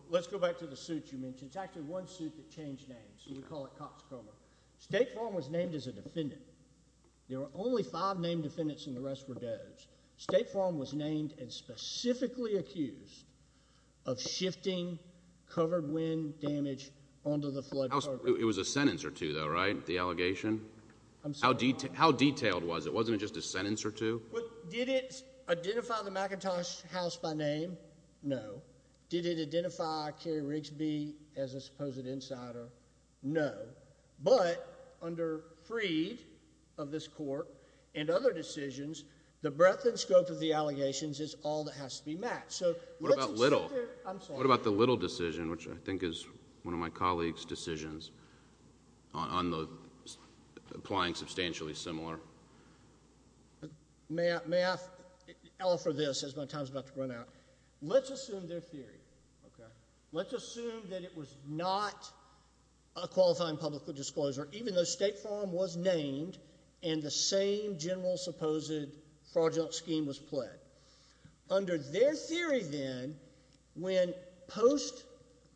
Let's go back to the suit you mentioned. It's actually one suit that changed names. We call it Cox Coma. State Farm was named as a defendant. State Farm was named and specifically accused of shifting covered wind damage onto the flood program. It was a sentence or two, though, right, the allegation? How detailed was it? Wasn't it just a sentence or two? Did it identify the McIntosh house by name? No. Did it identify Kerry Rigsby as a supposed insider? No. But under Freed of this court and other decisions, the breadth and scope of the allegations is all that has to be matched. What about Little? I'm sorry. What about the Little decision, which I think is one of my colleagues' decisions on applying substantially similar? May I offer this as my time is about to run out? Let's assume their theory. Okay. Let's assume that it was not a qualifying public disclosure, even though State Farm was named and the same general supposed fraudulent scheme was pled. Under their theory, then, when post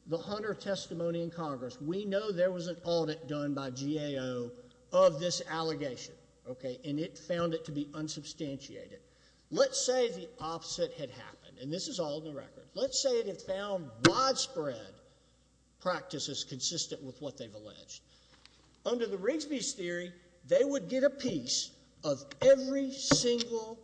the Hunter testimony in Congress, we know there was an audit done by GAO of this allegation, okay, and it found it to be unsubstantiated. Let's say the opposite had happened, and this is all in the record. Let's say it had found widespread practices consistent with what they've alleged. Under the Rigsby's theory, they would get a piece of every single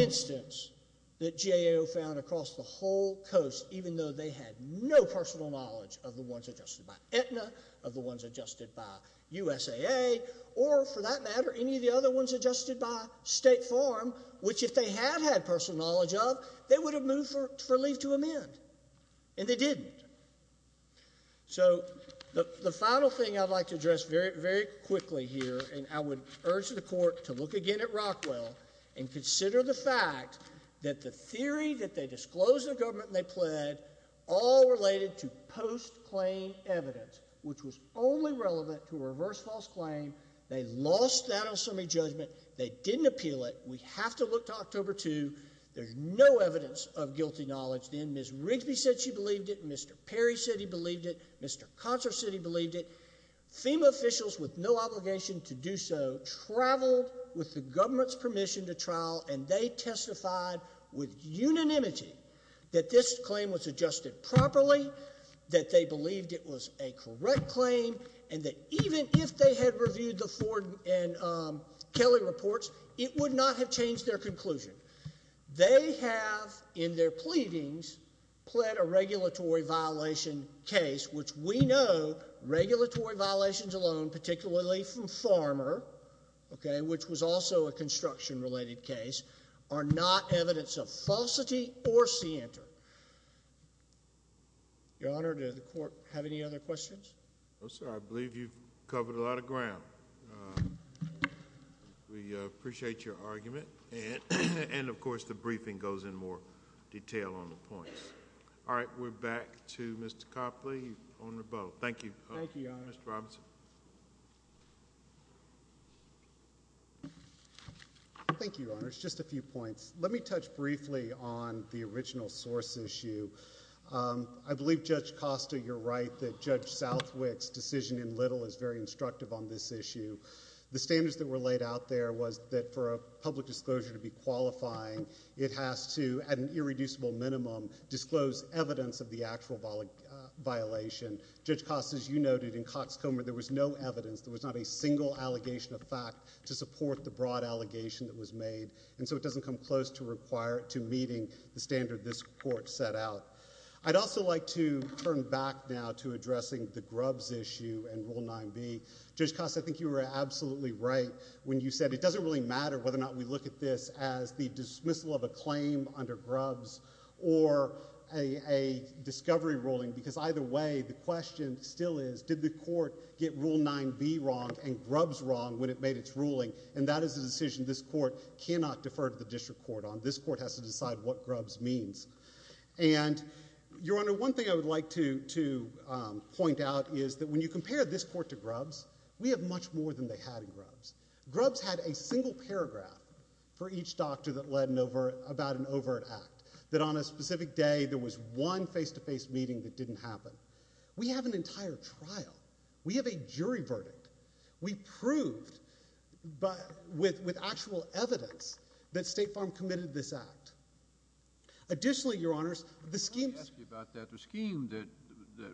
instance that GAO found across the whole coast, even though they had no personal knowledge of the ones adjusted by Aetna, of the ones adjusted by USAA, or, for that matter, any of the other ones adjusted by State Farm, which, if they had had personal knowledge of, they would have moved for leave to amend, and they didn't. So the final thing I'd like to address very quickly here, and I would urge the Court to look again at Rockwell and consider the fact that the theory that they disclosed to the government and they pled all related to post-claim evidence, which was only relevant to a reverse false claim. They lost that ultimate judgment. They didn't appeal it. We have to look to October 2. There's no evidence of guilty knowledge then. Ms. Rigsby said she believed it. Mr. Perry said he believed it. Mr. Contra said he believed it. FEMA officials with no obligation to do so traveled with the government's permission to trial, and they testified with unanimity that this claim was adjusted properly, that they believed it was a correct claim, and that even if they had reviewed the Ford and Kelly reports, it would not have changed their conclusion. They have, in their pleadings, pled a regulatory violation case, which we know, regulatory violations alone, particularly from Farmer, which was also a construction-related case, are not evidence of falsity or scienter. Your Honor, does the Court have any other questions? No, sir. I believe you've covered a lot of ground. We appreciate your argument, and, of course, the briefing goes in more detail on the points. All right. We're back to Mr. Copley on rebuttal. Thank you, Mr. Robinson. Thank you, Your Honor. It's just a few points. Let me touch briefly on the original source issue. I believe, Judge Costa, you're right that Judge Southwick's decision in Little is very instructive on this issue. The standards that were laid out there was that for a public disclosure to be qualifying, it has to, at an irreducible minimum, disclose evidence of the actual violation. Judge Costa, as you noted, in Cox Comer, there was no evidence. There was not a single allegation of fact to support the broad allegation that was made, and so it doesn't come close to meeting the standard this Court set out. I'd also like to turn back now to addressing the Grubbs issue and Rule 9b. Judge Costa, I think you were absolutely right when you said it doesn't really matter whether or not we look at this as the dismissal of a claim under Grubbs or a discovery ruling because either way the question still is did the Court get Rule 9b wrong and Grubbs wrong when it made its ruling, and that is a decision this Court cannot defer to the district court on. This Court has to decide what Grubbs means. And, Your Honor, one thing I would like to point out is that when you compare this Court to Grubbs, we have much more than they had in Grubbs. Grubbs had a single paragraph for each doctor that led about an overt act. That on a specific day there was one face-to-face meeting that didn't happen. We have an entire trial. We have a jury verdict. We proved with actual evidence that State Farm committed this act. Additionally, Your Honors, the scheme that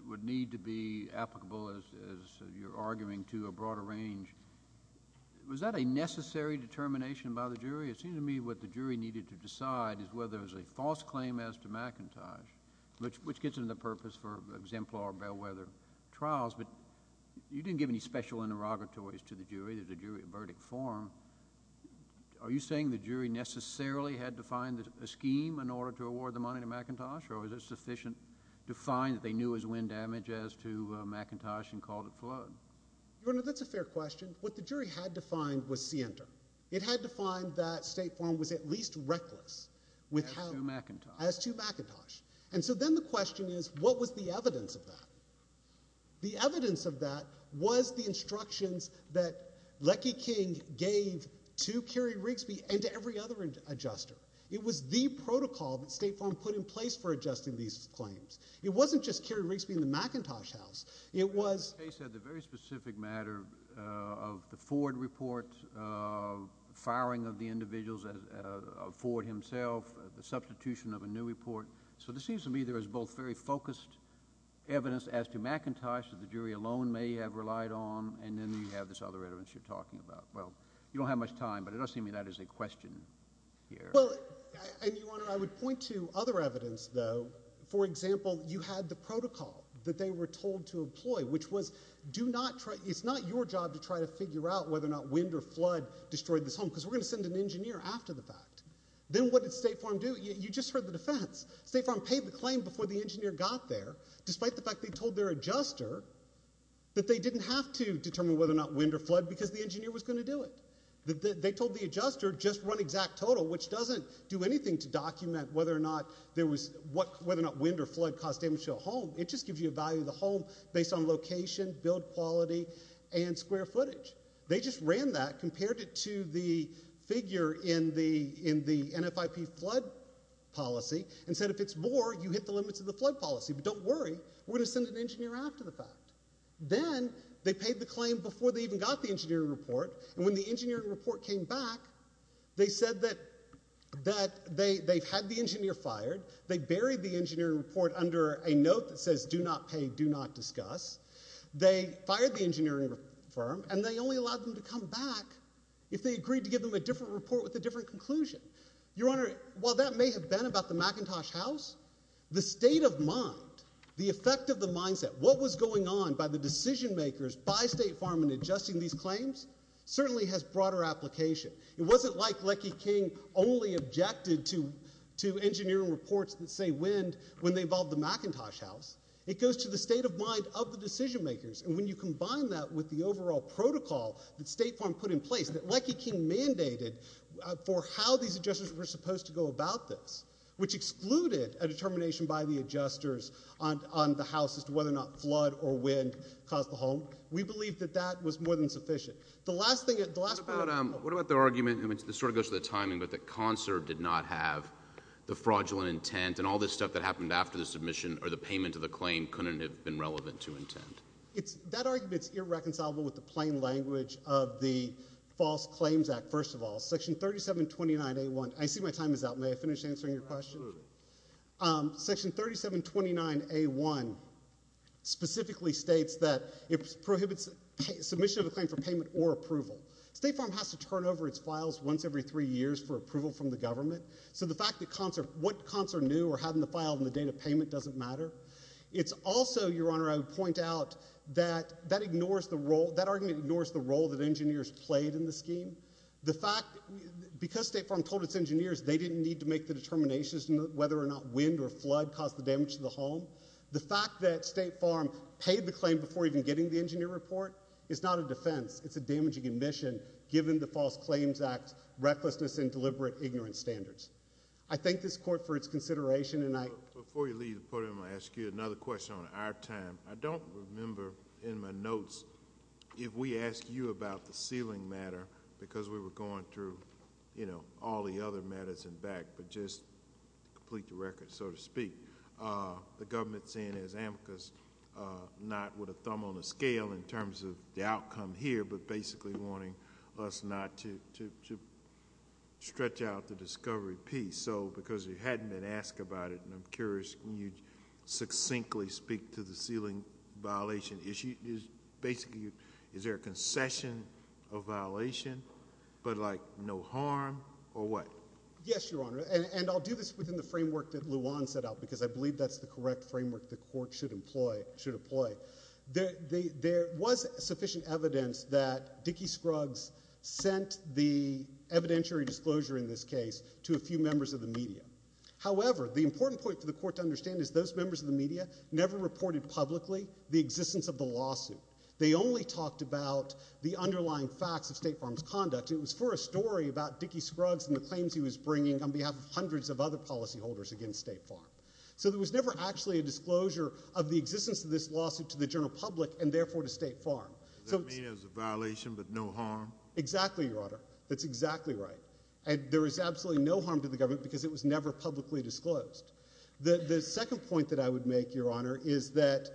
would need to be applicable, as you're arguing, to a broader range, was that a necessary determination by the jury? It seems to me what the jury needed to decide is whether it was a false claim as to McIntosh, which gets into the purpose for exemplar bellwether trials, but you didn't give any special interrogatories to the jury. There's a jury verdict form. Are you saying the jury necessarily had to find a scheme in order to award the money to McIntosh, or was it sufficient to find that they knew it was wind damage as to McIntosh and called it flood? Your Honor, that's a fair question. What the jury had to find was scienter. It had to find that State Farm was at least reckless as to McIntosh. And so then the question is what was the evidence of that? The evidence of that was the instructions that Leckie King gave to Cary Rigsby and to every other adjuster. It was the protocol that State Farm put in place for adjusting these claims. It wasn't just Cary Rigsby and the McIntosh House. The case had the very specific matter of the Ford report, firing of the individuals of Ford himself, the substitution of a new report. So this seems to me there is both very focused evidence as to McIntosh that the jury alone may have relied on, and then you have this other evidence you're talking about. Well, you don't have much time, but it does seem to me that is a question here. Well, and, Your Honor, I would point to other evidence, though. For example, you had the protocol that they were told to employ, which was it's not your job to try to figure out whether or not wind or flood destroyed this home because we're going to send an engineer after the fact. Then what did State Farm do? You just heard the defense. State Farm paid the claim before the engineer got there, despite the fact they told their adjuster that they didn't have to determine whether or not wind or flood because the engineer was going to do it. They told the adjuster just run exact total, which doesn't do anything to document whether or not wind or flood caused damage to a home. It just gives you a value of the home based on location, build quality, and square footage. They just ran that, compared it to the figure in the NFIP flood policy, and said if it's more, you hit the limits of the flood policy, but don't worry. We're going to send an engineer after the fact. Then they paid the claim before they even got the engineering report, and when the engineering report came back, they said that they had the engineer fired. They buried the engineering report under a note that says do not pay, do not discuss. They fired the engineering firm, and they only allowed them to come back if they agreed to give them a different report with a different conclusion. Your Honor, while that may have been about the McIntosh house, the state of mind, the effect of the mindset, what was going on by the decision makers, by State Farm in adjusting these claims, certainly has broader application. It wasn't like Leckie King only objected to engineering reports that say wind when they involved the McIntosh house. It goes to the state of mind of the decision makers, and when you combine that with the overall protocol that State Farm put in place, that Leckie King mandated for how these adjusters were supposed to go about this, which excluded a determination by the adjusters on the house as to whether or not flood or wind caused the home. We believe that that was more than sufficient. What about the argument, and this sort of goes to the timing, but that CONSERV did not have the fraudulent intent, and all this stuff that happened after the submission or the payment of the claim couldn't have been relevant to intent? That argument is irreconcilable with the plain language of the False Claims Act, first of all. Section 3729A1. I see my time is up. May I finish answering your question? Section 3729A1 specifically states that it prohibits submission of a claim for payment or approval. State Farm has to turn over its files once every three years for approval from the government, so the fact that what CONSERV knew or had in the file on the date of payment doesn't matter. It's also, Your Honor, I would point out that that argument ignores the role that engineers played in the scheme. The fact—because State Farm told its engineers they didn't need to make the determinations whether or not wind or flood caused the damage to the home, the fact that State Farm paid the claim before even getting the engineer report is not a defense. It's a damaging admission given the False Claims Act's recklessness and deliberate ignorance standards. I thank this Court for its consideration, and I— Before you leave the podium, I'll ask you another question on our time. I don't remember in my notes if we asked you about the ceiling matter because we were going through, you know, all the other matters in back, but just to complete the record, so to speak, the government's saying there's amicus, not with a thumb on a scale in terms of the outcome here, but basically wanting us not to stretch out the discovery piece. So because you hadn't been asked about it, and I'm curious, can you succinctly speak to the ceiling violation issue? Basically, is there a concession of violation but, like, no harm or what? Yes, Your Honor, and I'll do this within the framework that Luan set out because I believe that's the correct framework the Court should employ. There was sufficient evidence that Dickey Scruggs sent the evidentiary disclosure in this case to a few members of the media. However, the important point for the Court to understand is those members of the media never reported publicly the existence of the lawsuit. They only talked about the underlying facts of State Farm's conduct. It was for a story about Dickey Scruggs and the claims he was bringing on behalf of hundreds of other policyholders against State Farm. So there was never actually a disclosure of the existence of this lawsuit to the general public and, therefore, to State Farm. Does that mean it was a violation but no harm? Exactly, Your Honor. That's exactly right. There was absolutely no harm to the government because it was never publicly disclosed. The second point that I would make, Your Honor, is that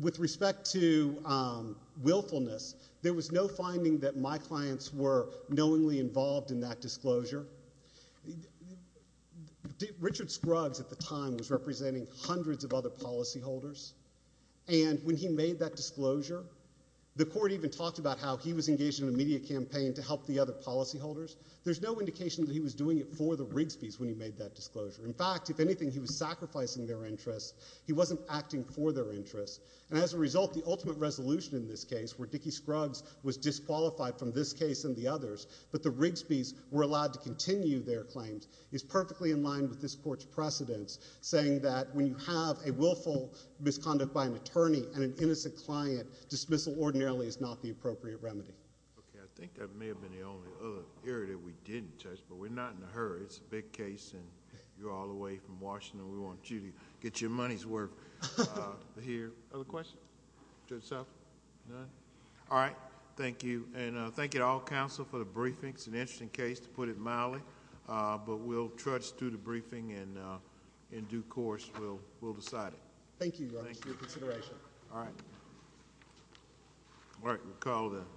with respect to willfulness, there was no finding that my clients were knowingly involved in that disclosure. Richard Scruggs at the time was representing hundreds of other policyholders, and when he made that disclosure, the Court even talked about how he was engaged in a media campaign to help the other policyholders. There's no indication that he was doing it for the Rigsby's when he made that disclosure. In fact, if anything, he was sacrificing their interests. He wasn't acting for their interests. And as a result, the ultimate resolution in this case, where Dickey Scruggs was disqualified from this case and the others, but the Rigsby's were allowed to continue their claims, is perfectly in line with this Court's precedence, saying that when you have a willful misconduct by an attorney and an innocent client, dismissal ordinarily is not the appropriate remedy. Okay. I think that may have been the only other area that we didn't touch, but we're not in a hurry. It's a big case, and you're all the way from Washington. We want you to get your money's worth here. Other questions? Judge Suffolk? None? All right. Thank you. And thank you to all counsel for the briefing. It's an interesting case, to put it mildly, but we'll trudge through the briefing, and in due course, we'll decide it. Thank you, Your Honor, for your consideration. Thank you, sir. All right.